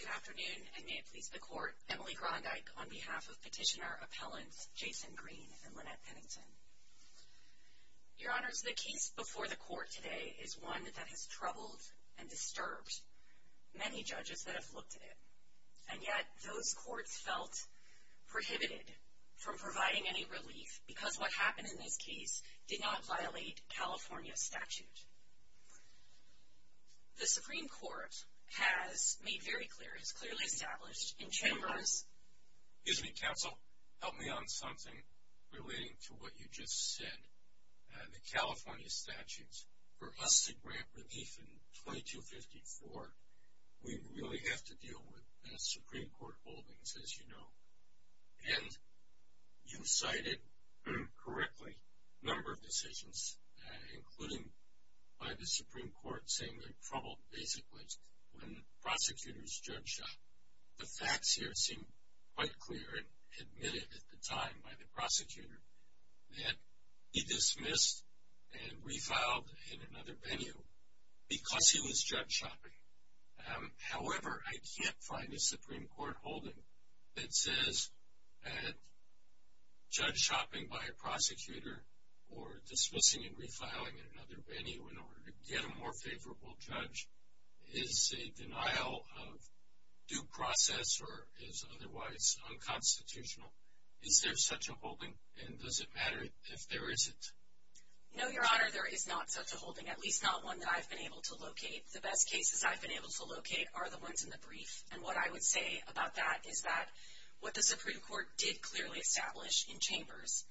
Good afternoon, and may it please the Court, Emily Grondyke on behalf of Petitioner Appellants Jason Green and Lynette Pennington. Your Honors, the case before the Court today is one that has troubled and disturbed many judges that have looked at it, and yet those courts felt prohibited from providing any The Supreme Court has made very clear, has clearly established, in Chambers Excuse me, Counsel, help me on something relating to what you just said. The California statutes, for us to grant relief in 2254, we really have to deal with Supreme Court holdings, as you know. And you cited, correctly, a number of decisions, including by the Supreme Court saying they troubled, basically, when prosecutors judge shopped. The facts here seem quite clear, and admitted at the time by the prosecutor, that he dismissed and refiled in another venue because he was judge shopping. However, I can't find a Supreme Court holding that says that judge shopping by a prosecutor, or dismissing and refiling in another venue in order to get a more favorable judge, is a denial of due process or is otherwise unconstitutional. Is there such a holding, and does it matter if there is it? No, Your Honor, there is not such a holding, at least not one that I've been able to locate. The best cases I've been able to locate are the ones in the brief, and what I would say about that is that what the Supreme Court did clearly establish in Chambers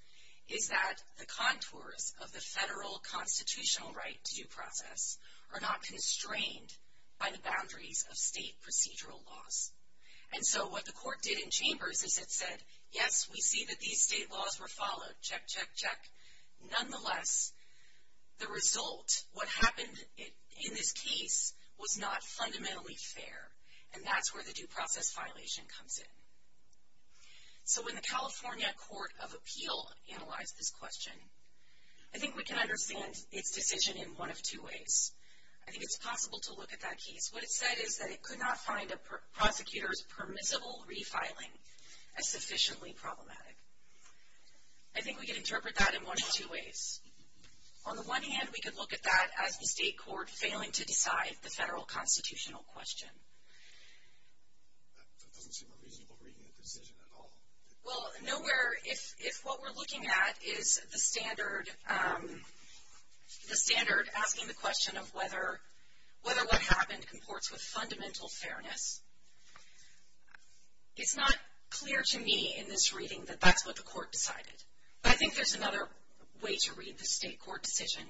is that the contours of the federal constitutional right due process are not constrained by the boundaries of state procedural laws. And so what the court did in Chambers is it said, yes, we see that these state laws were followed, check, check, check. Nonetheless, the result, what happened in this case, was not fundamentally fair. And that's where the due process violation comes in. So when the California Court of Appeal analyzed this question, I think we can understand its decision in one of two ways. I think it's possible to look at that case. What it said is that it could not find a prosecutor's permissible refiling as sufficiently problematic. I think we can interpret that in one of two ways. On the one hand, we could look at that as the state court failing to decide the federal constitutional question. That doesn't seem a reasonable reading of the decision at all. Well, nowhere, if what we're looking at is the standard asking the question of whether what happened comports with fundamental fairness, it's not clear to me in this reading that that's what the court decided. But I think there's another way to read the state court decision,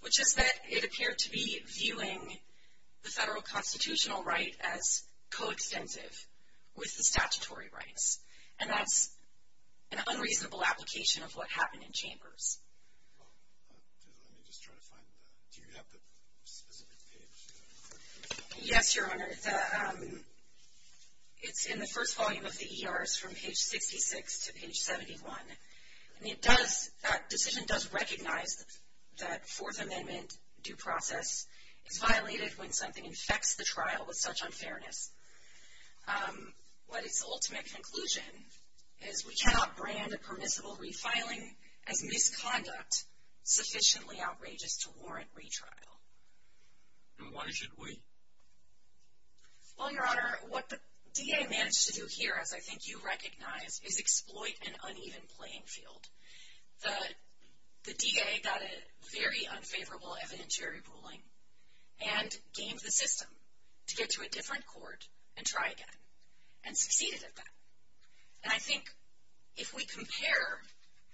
which is that it appeared to be viewing the federal constitutional right as coextensive with the statutory rights. And that's an unreasonable application of what happened in Chambers. Do you have the specific page? Yes, Your Honor. It's in the first volume of the ERs from page 66 to page 71. That decision does recognize that Fourth Amendment due process is violated when something infects the trial with such unfairness. But its ultimate conclusion is we cannot brand a permissible refiling as misconduct sufficiently outrageous to warrant retrial. And why should we? Well, Your Honor, what the DA managed to do here, as I think you recognize, is exploit an uneven playing field. The DA got a very unfavorable evidentiary ruling and gamed the system to get to a different court and try again and succeeded at that. And I think if we compare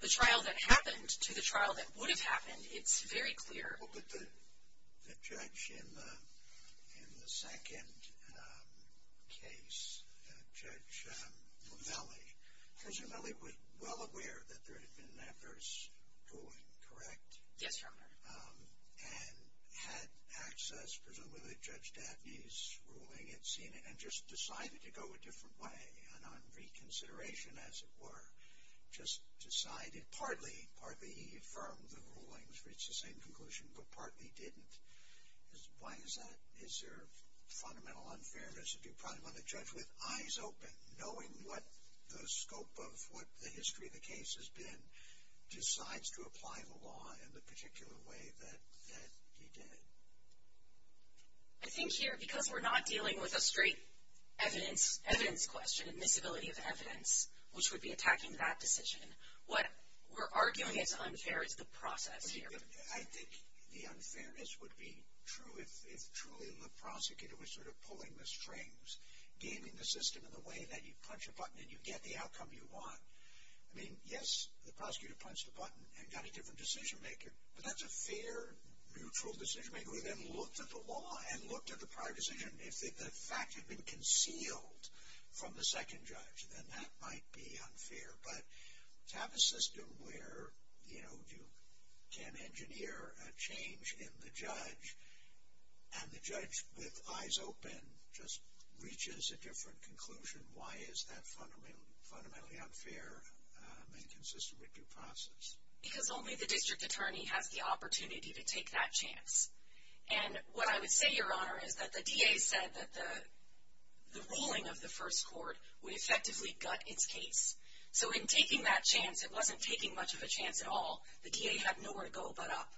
the trial that happened to the trial that would have happened, it's very clear. Well, but the judge in the second case, Judge Mele, presumably was well aware that there had been an adverse ruling, correct? Yes, Your Honor. And had access, presumably, to Judge Dabney's ruling and seen it and just decided to go a different way, and on reconsideration, as it were, just decided partly, partly he affirmed the rulings, reached the same conclusion, but partly didn't. Why is that? Is there fundamental unfairness? If you probably want to judge with eyes open, knowing what the scope of what the history of the case has been, decides to apply the law in the particular way that he did. I think here, because we're not dealing with a straight evidence question, admissibility of evidence, which would be attacking that decision, what we're arguing is unfair is the process here. I think the unfairness would be true if truly the prosecutor was sort of pulling the strings, gaming the system in the way that you punch a button and you get the outcome you want. I mean, yes, the prosecutor punched a button and got a different decision maker, but that's a fair, neutral decision maker who then looked at the law and looked at the prior decision. If the fact had been concealed from the second judge, then that might be unfair. But to have a system where, you know, you can't engineer a change in the judge, and the judge with eyes open just reaches a different conclusion, why is that fundamentally unfair and inconsistent with due process? Because only the district attorney has the opportunity to take that chance. And what I would say, Your Honor, is that the DA said that the ruling of the first court would effectively gut its case. So in taking that chance, it wasn't taking much of a chance at all. The DA had nowhere to go but up,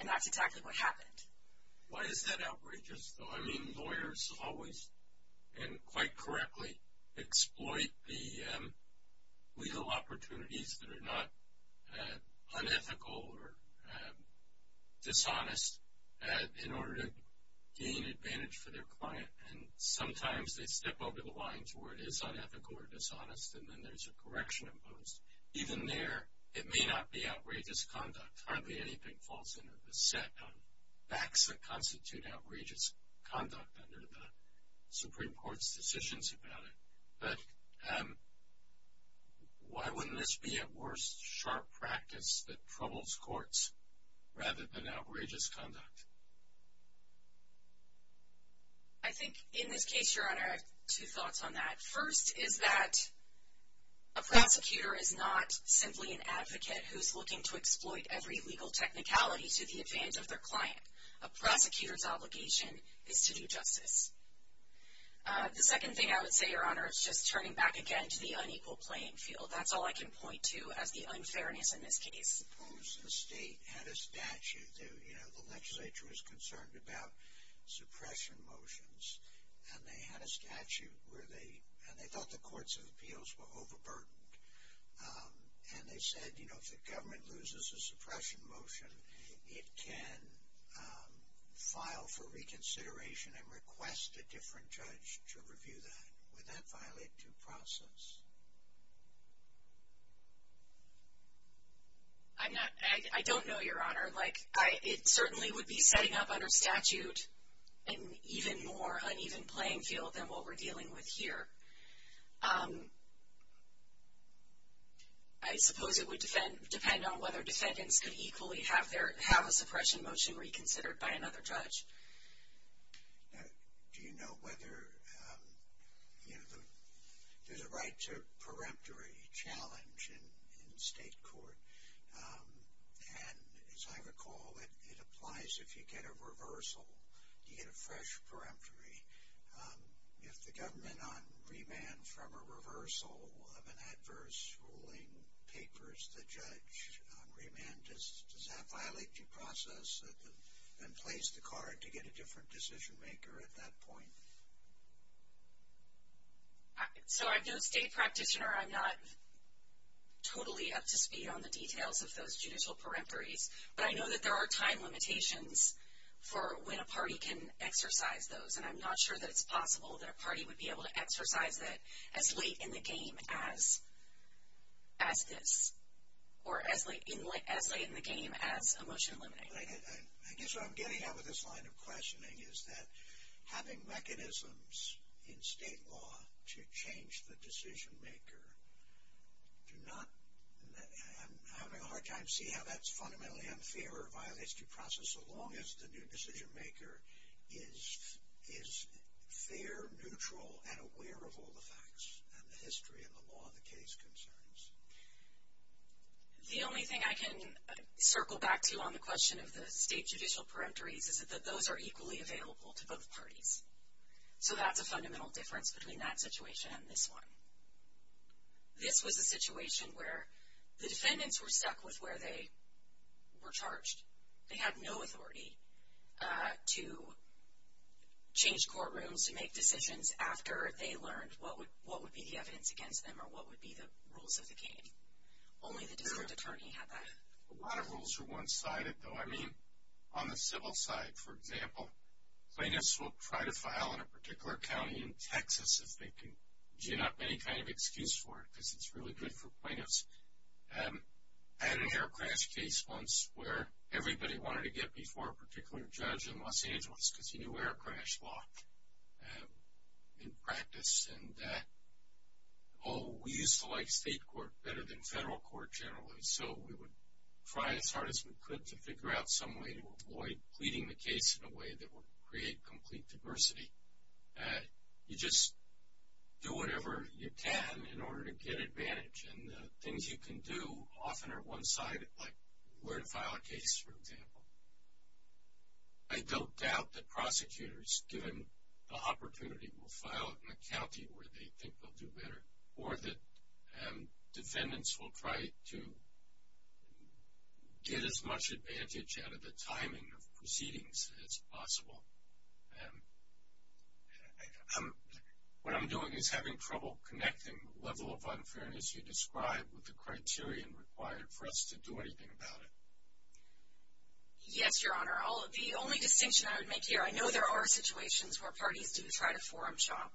and that's exactly what happened. Why is that outrageous, though? I mean, lawyers always and quite correctly exploit the legal opportunities that are not unethical or dishonest in order to gain advantage for their client. And sometimes they step over the lines where it is unethical or dishonest, and then there's a correction imposed. Even there, it may not be outrageous conduct. Hardly anything falls into the set on facts that constitute outrageous conduct under the Supreme Court's decisions about it. But why wouldn't this be at worst sharp practice that troubles courts rather than outrageous conduct? I think in this case, Your Honor, I have two thoughts on that. First is that a prosecutor is not simply an advocate who's looking to exploit every legal technicality to the advantage of their client. A prosecutor's obligation is to do justice. The second thing I would say, Your Honor, is just turning back again to the unequal playing field. That's all I can point to as the unfairness in this case. Suppose the state had a statute, you know, the legislature was concerned about suppression motions, and they had a statute where they thought the courts of appeals were overburdened. And they said, you know, if the government loses a suppression motion, it can file for reconsideration and request a different judge to review that. Would that violate due process? I'm not – I don't know, Your Honor. Like, it certainly would be setting up under statute an even more uneven playing field than what we're dealing with here. I suppose it would depend on whether defendants could equally have their – have a suppression motion reconsidered by another judge. Now, do you know whether, you know, there's a right to a peremptory challenge in state court? And as I recall, it applies if you get a reversal, you get a fresh peremptory. If the government on remand from a reversal of an adverse ruling papers the judge on remand, does that violate due process and place the card to get a different decision maker at that point? So I'm no state practitioner. I'm not totally up to speed on the details of those judicial peremptories. But I know that there are time limitations for when a party can exercise those, and I'm not sure that it's possible that a party would be able to exercise it as late in the game as this or as late in the game as a motion limiting. I guess what I'm getting at with this line of questioning is that having mechanisms in state law to change the decision maker do not – I'm having a hard time seeing how that's fundamentally unfair or violates due process so long as the new decision maker is fair, neutral, and aware of all the facts and the history and the law of the case concerns. The only thing I can circle back to on the question of the state judicial peremptories is that those are equally available to both parties. So that's a fundamental difference between that situation and this one. This was a situation where the defendants were stuck with where they were charged. They had no authority to change courtrooms, to make decisions after they learned what would be the evidence against them or what would be the rules of the game. Only the district attorney had that. A lot of rules are one-sided, though. I mean, on the civil side, for example, plaintiffs will try to file in a particular county in Texas if they can gin up any kind of excuse for it because it's really good for plaintiffs. I had an air crash case once where everybody wanted to get before a particular judge in Los Angeles because he knew air crash law in practice. And oh, we used to like state court better than federal court generally, so we would try as hard as we could to figure out some way to avoid pleading the case in a way that would create complete diversity. You just do whatever you can in order to get advantage. And the things you can do often are one-sided, like where to file a case, for example. I don't doubt that prosecutors, given the opportunity, will file in a county where they think they'll do better or that defendants will try to get as much advantage out of the timing of proceedings as possible. What I'm doing is having trouble connecting the level of unfairness you described with the criteria required for us to do anything about it. Yes, Your Honor. The only distinction I would make here, I know there are situations where parties do try to forum shop.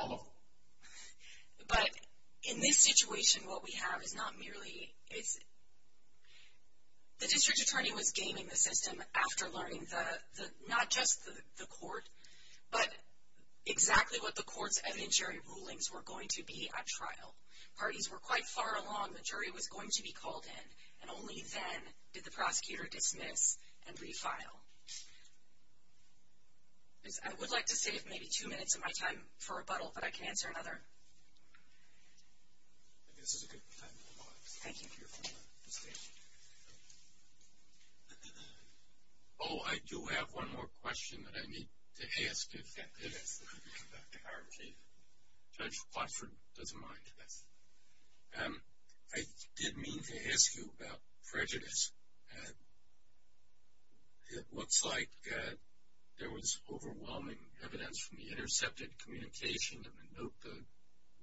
All of them. But in this situation, what we have is not merely. The district attorney was gaming the system after learning not just the court, but exactly what the court's evidentiary rulings were going to be at trial. Parties were quite far along the jury was going to be called in, and only then did the prosecutor dismiss and refile. I would like to save maybe two minutes of my time for rebuttal, but I can answer another. I think this is a good time to apologize. Thank you, Your Honor. Oh, I do have one more question that I need to ask if that fits. Judge Plattford doesn't mind. Yes. I did mean to ask you about prejudice. It looks like there was overwhelming evidence from the intercepted communication of the note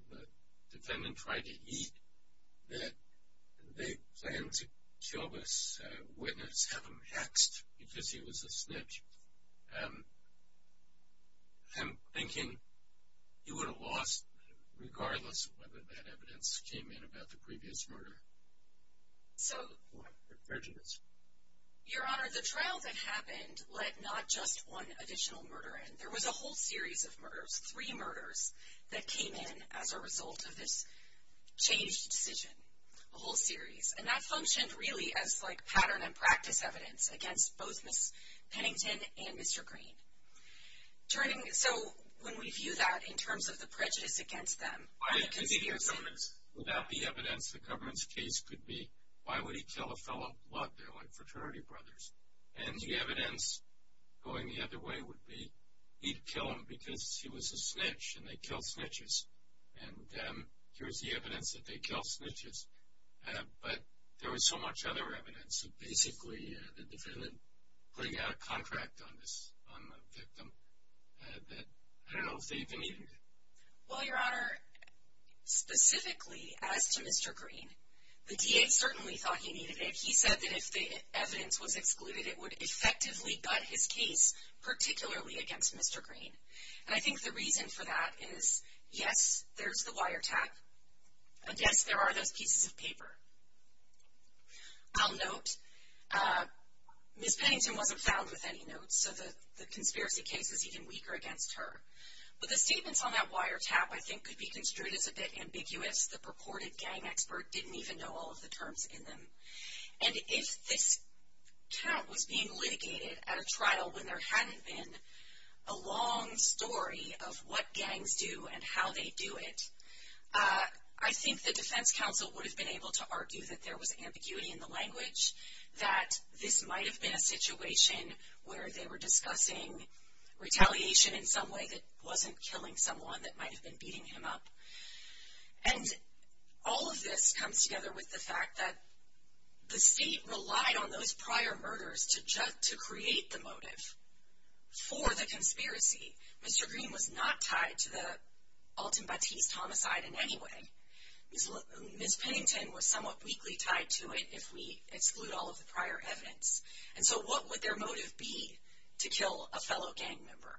the defendant tried to eat that they planned to kill this witness, have him hexed because he was a snitch. I'm thinking he would have lost regardless of whether that evidence came in about the previous murder. So. Prejudice. Your Honor, the trial that happened let not just one additional murder in. There was a whole series of murders, three murders, that came in as a result of this changed decision, a whole series. And that functioned really as like pattern and practice evidence against both Ms. Pennington and Mr. Green. So when we view that in terms of the prejudice against them. Without the evidence, the government's case could be, why would he kill a fellow blood dealer and fraternity brothers? And the evidence going the other way would be, he'd kill him because he was a snitch and they kill snitches. And here's the evidence that they kill snitches. But there was so much other evidence. So basically, the defendant putting out a contract on this, on the victim, that I don't know if they even needed it. Well, Your Honor, specifically as to Mr. Green, the DA certainly thought he needed it. He said that if the evidence was excluded, it would effectively gut his case, particularly against Mr. Green. And I think the reason for that is, yes, there's the wiretap. And yes, there are those pieces of paper. I'll note, Ms. Pennington wasn't found with any notes. So the conspiracy case is even weaker against her. But the statements on that wiretap I think could be construed as a bit ambiguous. The purported gang expert didn't even know all of the terms in them. And if this tap was being litigated at a trial when there hadn't been a long story of what gangs do and how they do it, I think the defense counsel would have been able to argue that there was ambiguity in the language, that this might have been a situation where they were discussing retaliation in some way that wasn't killing someone that might have been beating him up. And all of this comes together with the fact that the state relied on those prior murders to create the motive for the conspiracy. Mr. Green was not tied to the Alton Batiste homicide in any way. Ms. Pennington was somewhat weakly tied to it if we exclude all of the prior evidence. And so what would their motive be to kill a fellow gang member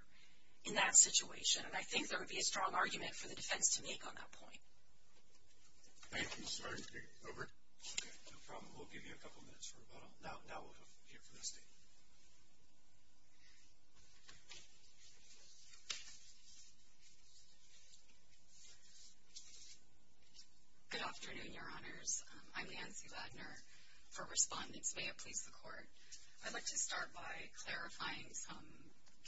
in that situation? And I think there would be a strong argument for the defense to make on that point. Thank you. Sorry. Over. No problem. We'll give you a couple minutes for rebuttal. Now we'll hear from the state. Good afternoon, Your Honors. I'm Nancy Ladner. For respondents, may it please the Court, I'd like to start by clarifying some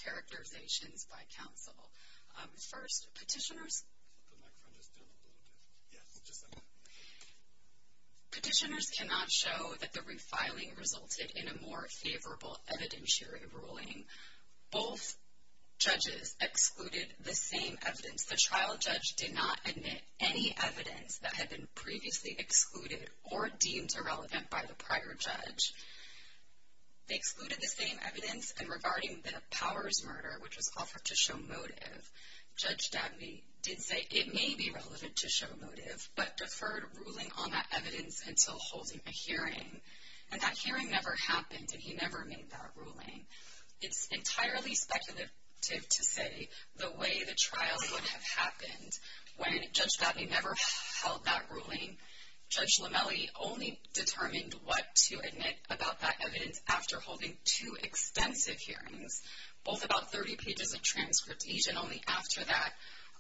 characterizations by counsel. First, petitioners cannot show that the refiling resulted in a more favorable evidentiary ruling. Both judges excluded the same evidence. The trial judge did not admit any evidence that had been previously excluded or deemed irrelevant by the prior judge. They excluded the same evidence in regarding the Powers murder, which was offered to show motive. Judge Dabney did say it may be relevant to show motive, but deferred ruling on that evidence until holding a hearing. And that hearing never happened, and he never made that ruling. It's entirely speculative to say the way the trial would have happened. When Judge Dabney never held that ruling, Judge Lomelli only determined what to admit about that evidence after holding two extensive hearings, both about 30 pages of transcript each, and only after that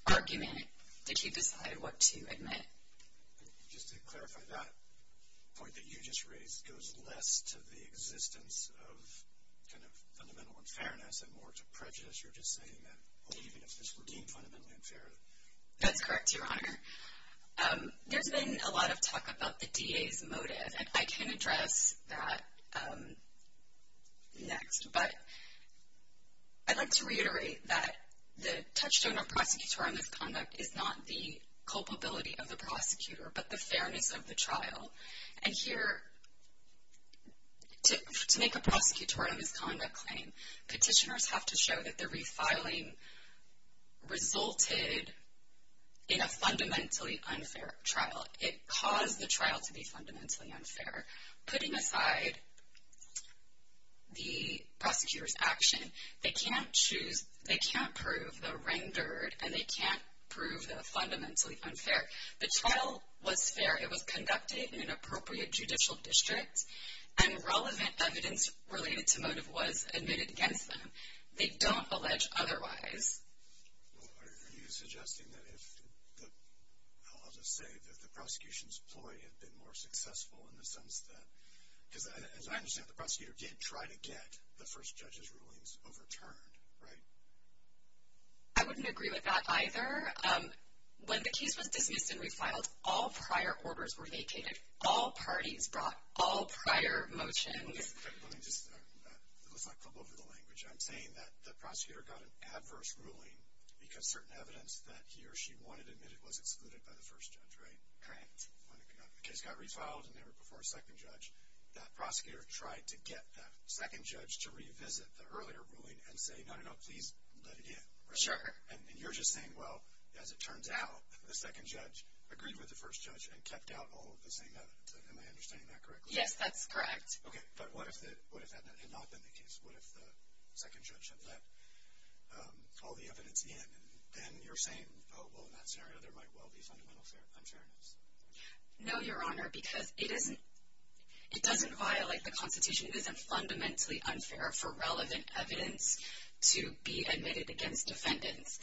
argument did he decide what to admit. Just to clarify, that point that you just raised goes less to the existence of kind of fundamental unfairness and more to prejudice. You're just saying that even if this were deemed fundamentally unfair? That's correct, Your Honor. There's been a lot of talk about the DA's motive, and I can address that next. But I'd like to reiterate that the touchstone of prosecutorial misconduct is not the culpability of the prosecutor, but the fairness of the trial. And here, to make a prosecutorial misconduct claim, petitioners have to show that the refiling resulted in a fundamentally unfair trial. It caused the trial to be fundamentally unfair. Putting aside the prosecutor's action, they can't prove the rendered, and they can't prove the fundamentally unfair. The trial was fair, it was conducted in an appropriate judicial district, and relevant evidence related to motive was admitted against them. They don't allege otherwise. Well, are you suggesting that if the – I'll just say that the prosecution's ploy had been more successful in the sense that – because as I understand it, the prosecutor did try to get the first judge's rulings overturned, right? I wouldn't agree with that either. When the case was dismissed and refiled, all prior orders were vacated. All parties brought all prior motions. Let me just – it looks like I'm going over the language. I'm saying that the prosecutor got an adverse ruling because certain evidence that he or she wanted admitted was excluded by the first judge, right? Correct. When the case got refiled and never before a second judge, that prosecutor tried to get that second judge to revisit the earlier ruling and say, no, no, no, please let it in, right? Sure. And you're just saying, well, as it turns out, the second judge agreed with the first judge and kept out all of the same evidence. Am I understanding that correctly? Yes, that's correct. Okay. But what if that had not been the case? What if the second judge had let all the evidence in and then you're saying, oh, well, in that scenario there might well be fundamental unfairness? No, Your Honor, because it doesn't violate the Constitution. It isn't fundamentally unfair for relevant evidence to be admitted against defendants.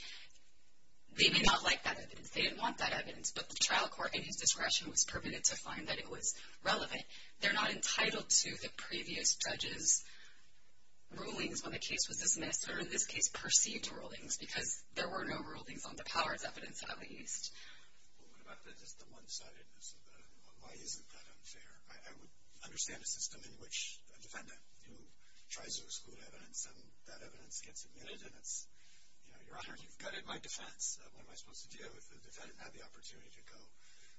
They may not like that evidence. They didn't want that evidence, but the trial court, in his discretion, was permitted to find that it was relevant. They're not entitled to the previous judge's rulings when the case was dismissed, or in this case, perceived rulings, because there were no rulings on the powers evidence, at least. Well, what about the one-sidedness of that? Why isn't that unfair? I would understand a system in which a defendant who tries to exclude evidence and that evidence gets admitted and it's, you know, Your Honor, you've gutted my defense. What am I supposed to do if the defendant had the opportunity to go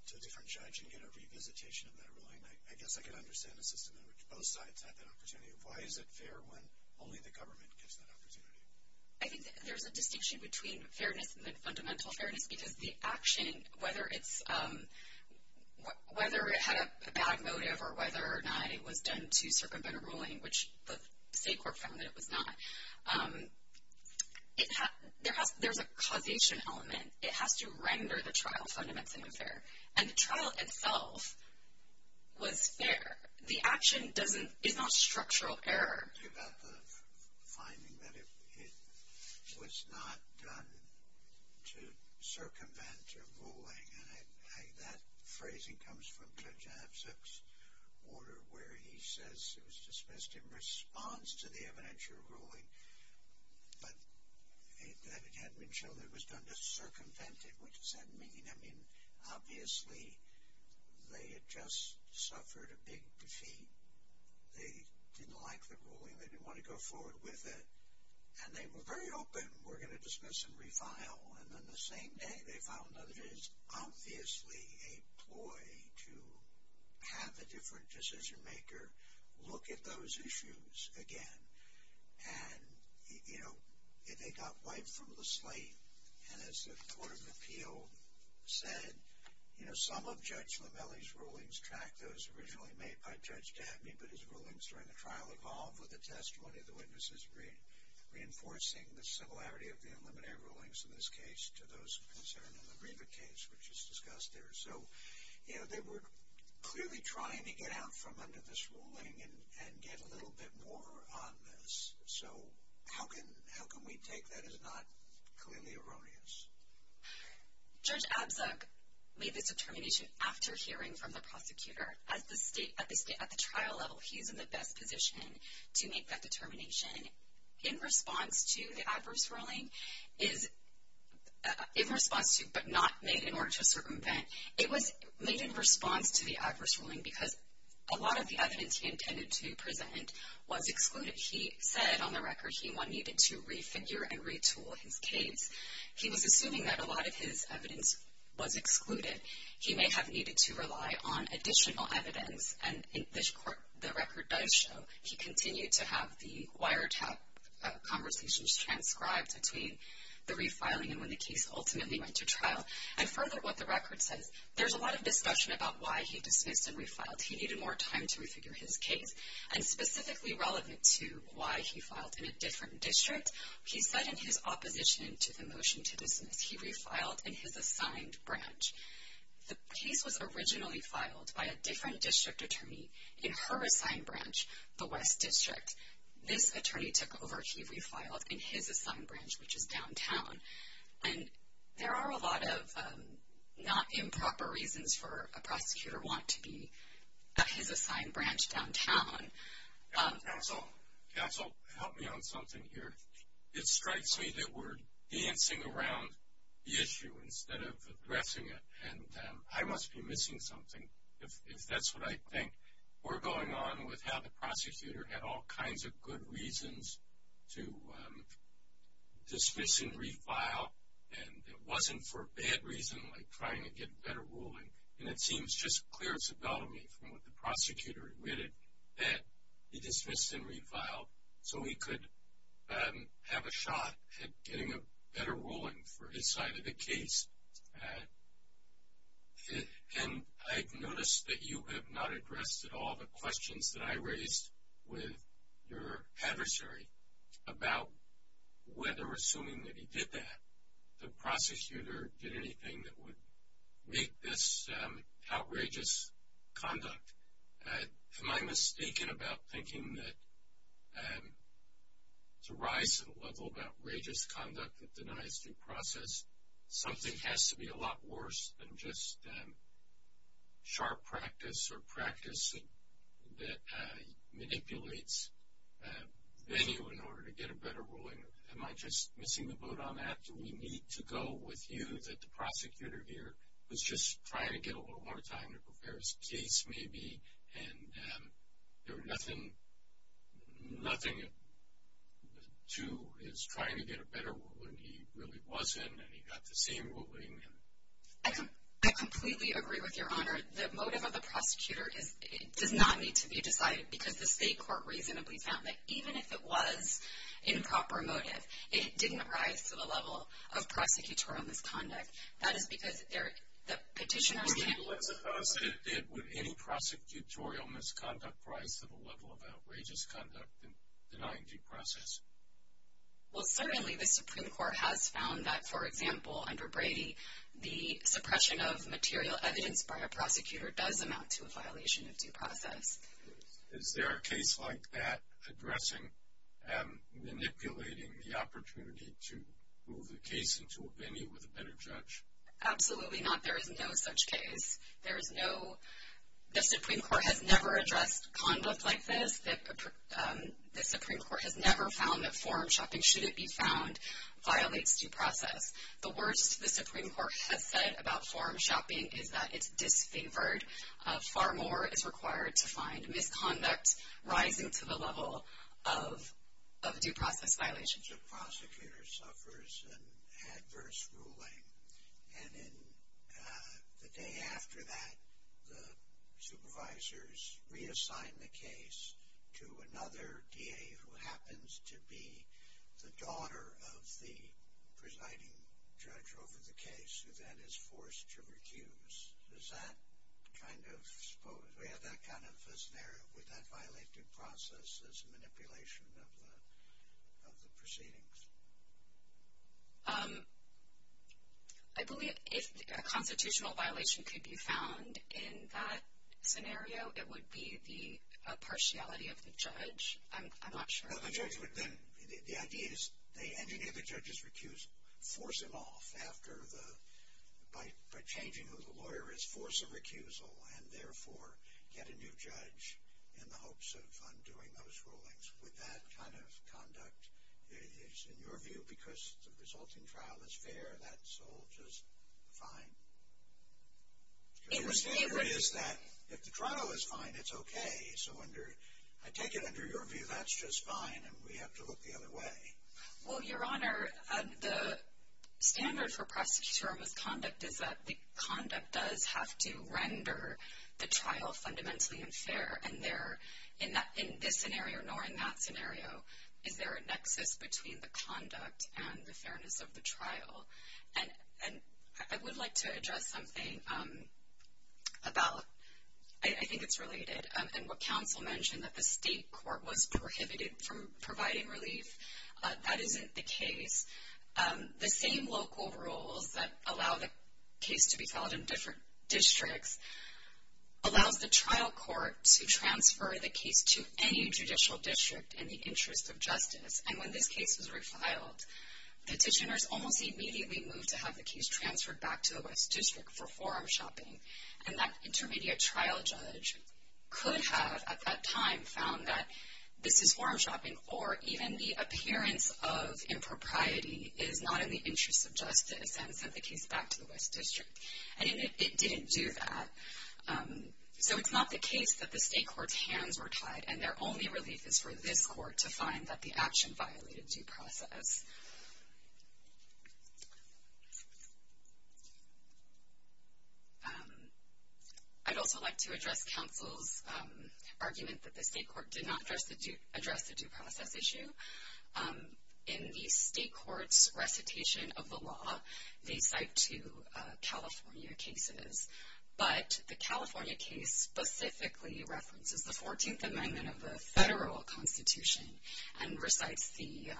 to a different judge and get a revisitation of that ruling? I guess I could understand a system in which both sides had that opportunity. Why is it fair when only the government gets that opportunity? I think there's a distinction between fairness and fundamental fairness because the action, whether it's – whether it had a bad motive or whether or not it was done to circumvent a ruling, which the state court found that it was not, there's a causation element. It has to render the trial fundamentally unfair. And the trial itself was fair. The action is not structural error. What about the finding that it was not done to circumvent a ruling? That phrasing comes from Judge Abzug's order where he says it was dismissed in response to the evidentiary ruling, but that it hadn't been shown that it was done to circumvent it, which does that mean? I mean, obviously, they had just suffered a big defeat. They didn't like the ruling. They didn't want to go forward with it. And they were very open, we're going to dismiss and refile. And then the same day they found that it is obviously a ploy to have a different decision-maker look at those issues again. And, you know, they got wiped from the slate. And as the Court of Appeal said, you know, some of Judge Lamelli's rulings track those originally made by Judge Dabney, but his rulings during the trial evolved with the testimony of the witnesses, reinforcing the similarity of the evidentiary rulings in this case to those concerned in the Riva case, which is discussed there. So, you know, they were clearly trying to get out from under this ruling and get a little bit more on this. So how can we take that as not clearly erroneous? Judge Abzug made this determination after hearing from the prosecutor. At the trial level, he's in the best position to make that determination. In response to the adverse ruling, but not made in order to circumvent, it was made in response to the adverse ruling because a lot of the evidence he intended to present was excluded. He said, on the record, he needed to refigure and retool his case. He was assuming that a lot of his evidence was excluded. He may have needed to rely on additional evidence. And the record does show he continued to have the wiretap conversations transcribed between the refiling and when the case ultimately went to trial. And further, what the record says, there's a lot of discussion about why he dismissed and refiled. He needed more time to refigure his case. And specifically relevant to why he filed in a different district, he said in his opposition to the motion to dismiss, he refiled in his assigned branch. The case was originally filed by a different district attorney in her assigned branch, the West District. This attorney took over. He refiled in his assigned branch, which is downtown. And there are a lot of not improper reasons for a prosecutor want to be at his assigned branch downtown. Counsel? Counsel, help me on something here. It strikes me that we're dancing around the issue instead of addressing it. And I must be missing something, if that's what I think. We're going on with how the prosecutor had all kinds of good reasons to dismiss and refile. And it wasn't for bad reason, like trying to get better ruling. And it seems just clear to me from what the prosecutor admitted that he dismissed and refiled so he could have a shot at getting a better ruling for his side of the case. And I've noticed that you have not addressed at all the questions that I raised with your adversary about whether, assuming that he did that, the prosecutor did anything that would make this outrageous conduct. Am I mistaken about thinking that to rise to the level of outrageous conduct that denies due process, something has to be a lot worse than just sharp practice or practice that manipulates venue in order to get a better ruling? Am I just missing the boat on that? Do we need to go with you that the prosecutor here was just trying to get a little more time to prepare his case, maybe, and there was nothing to his trying to get a better ruling? He really wasn't, and he got the same ruling. I completely agree with Your Honor. The motive of the prosecutor does not need to be decided because the state court reasonably found that even if it was improper motive, it didn't rise to the level of prosecutorial misconduct. That is because the petitioners can't... Would any prosecutorial misconduct rise to the level of outrageous conduct in denying due process? Well, certainly the Supreme Court has found that, for example, under Brady, the suppression of material evidence by a prosecutor does amount to a violation of due process. Is there a case like that addressing manipulating the opportunity to move the case into a venue with a better judge? Absolutely not. There is no such case. There is no... The Supreme Court has never addressed conduct like this. The Supreme Court has never found that forum shopping, should it be found, violates due process. The worst the Supreme Court has said about forum shopping is that it's disfavored. Far more is required to find misconduct rising to the level of due process violations. The prosecutor suffers an adverse ruling, and then the day after that the supervisors reassign the case to another DA who happens to be the daughter of the presiding judge over the case, who then is forced to recuse. Does that kind of... We have that kind of a scenario, would that violate due process as a manipulation of the proceedings? I believe if a constitutional violation could be found in that scenario, it would be the partiality of the judge. I'm not sure. The judge would then... The idea is they engineer the judge's recuse, force him off by changing who the lawyer is, force a recusal, and therefore get a new judge in the hopes of undoing those rulings. Would that kind of conduct, in your view, because the resulting trial is fair, that's all just fine? It would be... If the trial is fine, it's okay. I take it under your view that's just fine and we have to look the other way. Well, Your Honor, the standard for prosecutorial misconduct is that the conduct does have to render the trial fundamentally unfair, and in this scenario nor in that scenario is there a nexus between the conduct and the fairness of the trial. And I would like to address something about... I think it's related, and what counsel mentioned that the state court was prohibited from providing relief. That isn't the case. The same local rules that allow the case to be filed in different districts allows the trial court to transfer the case to any judicial district in the interest of justice. And when this case was refiled, petitioners almost immediately moved to have the case transferred back to the West District for forum shopping. And that intermediate trial judge could have, at that time, found that this is forum shopping or even the appearance of impropriety is not in the interest of justice and sent the case back to the West District. And it didn't do that. So it's not the case that the state court's hands were tied and their only relief is for this court to find that the action violated due process. I'd also like to address counsel's argument that the state court did not address the due process issue. In the state court's recitation of the law, they cite two California cases. But the California case specifically references the 14th Amendment of the federal constitution and recites the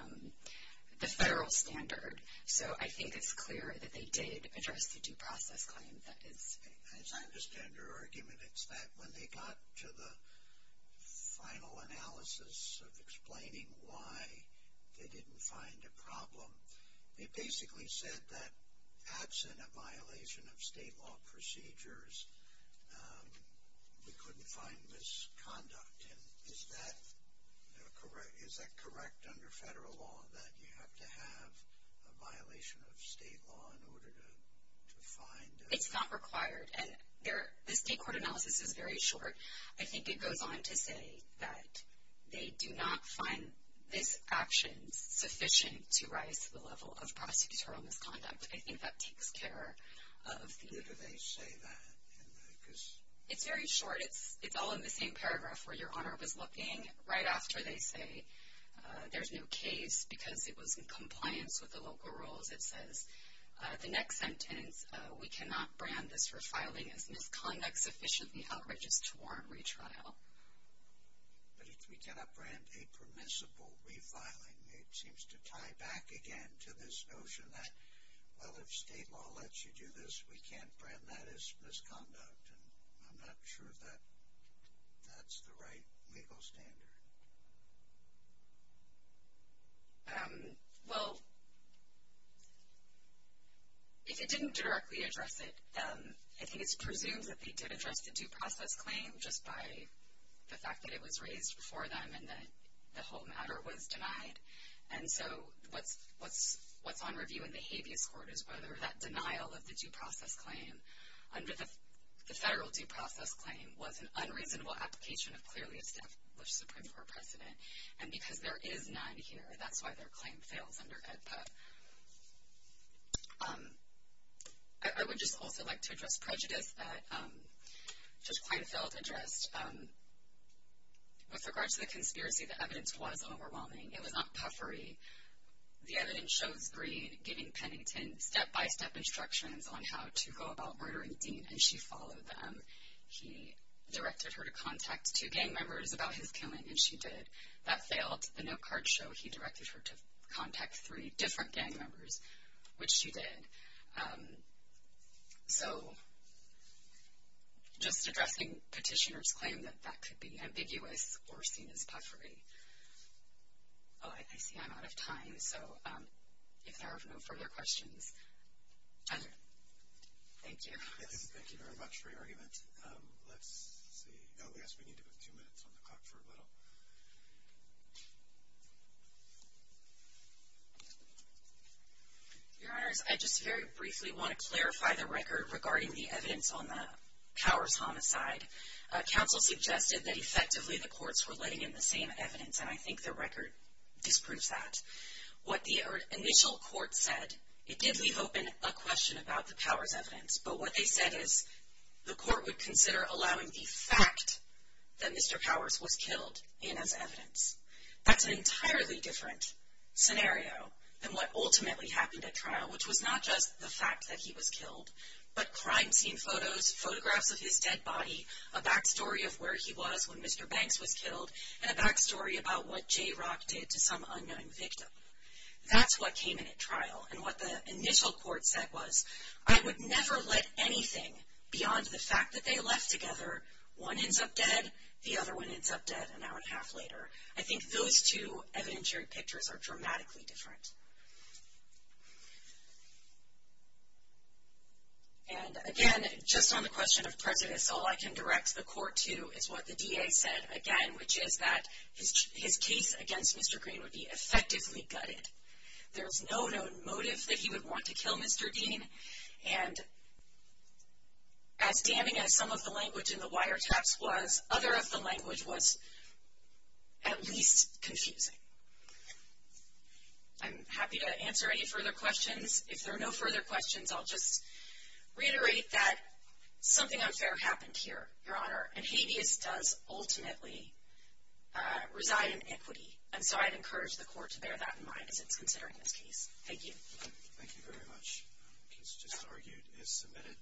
federal standard. So I think it's clear that they did address the due process claim. As I understand your argument, it's that when they got to the final analysis of explaining why they didn't find a problem, they basically said that absent a violation of state law procedures, we couldn't find misconduct. Is that correct under federal law, that you have to have a violation of state law in order to find? It's not required. The state court analysis is very short. I think it goes on to say that they do not find this action sufficient to rise to the level of prosecutorial misconduct. I think that takes care of the... It's very short. It's all in the same paragraph where your Honor was looking. Right after they say there's no case because it was in compliance with the local rules, it says, the next sentence, we cannot brand this refiling as misconduct sufficiently outrageous to warrant retrial. But if we cannot brand a permissible refiling, it seems to tie back again to this notion that, well, if state law lets you do this, we can't brand that as misconduct, and I'm not sure that that's the right legal standard. Well, if it didn't directly address it, I think it's presumed that they did address the due process claim just by the fact that it was raised before them and that the whole matter was denied. And so what's on review in the habeas court is whether that denial of the due process claim under the federal due process claim was an unreasonable application of clearly established Supreme Court precedent. And because there is none here, that's why their claim fails under EDPA. I would just also like to address prejudice that Judge Kleinfeld addressed. With regard to the conspiracy, the evidence was overwhelming. It was not puffery. The evidence shows Breed giving Pennington step-by-step instructions on how to go about murdering Dean, and she followed them. He directed her to contact two gang members about his killing, and she did. That failed. The notecards show he directed her to contact three different gang members, which she did. So just addressing petitioner's claim that that could be ambiguous or seen as puffery. Oh, I see I'm out of time. So if there are no further questions. Thank you. Thank you very much for your argument. Let's see. Oh, yes, we need to put two minutes on the clock for a little. Your Honors, I just very briefly want to clarify the record regarding the evidence on the Cowers homicide. Council suggested that effectively the courts were letting in the same evidence, and I think the record disproves that. What the initial court said, it did leave open a question about the Cowers evidence, but what they said is the court would consider allowing the fact that Mr. Cowers was killed in as evidence. That's an entirely different scenario than what ultimately happened at trial, which was not just the fact that he was killed, but crime scene photos, photographs of his dead body, a back story of where he was when Mr. Banks was killed, and a back story about what Jay Rock did to some unknown victim. That's what came in at trial, and what the initial court said was, I would never let anything beyond the fact that they left together, one ends up dead, the other one ends up dead an hour and a half later. I think those two evidentiary pictures are dramatically different. And again, just on the question of prejudice, all I can direct the court to is what the DA said, again, which is that his case against Mr. Green would be effectively gutted. There was no known motive that he would want to kill Mr. Dean, and as damning as some of the language in the wiretaps was, other of the language was at least confusing. I'm happy to answer any further questions. If there are no further questions, I'll just reiterate that something unfair happened here, Your Honor, and habeas does ultimately reside in equity, and so I'd encourage the court to bear that in mind as it's considering this case. Thank you. Thank you very much. The case just argued is submitted.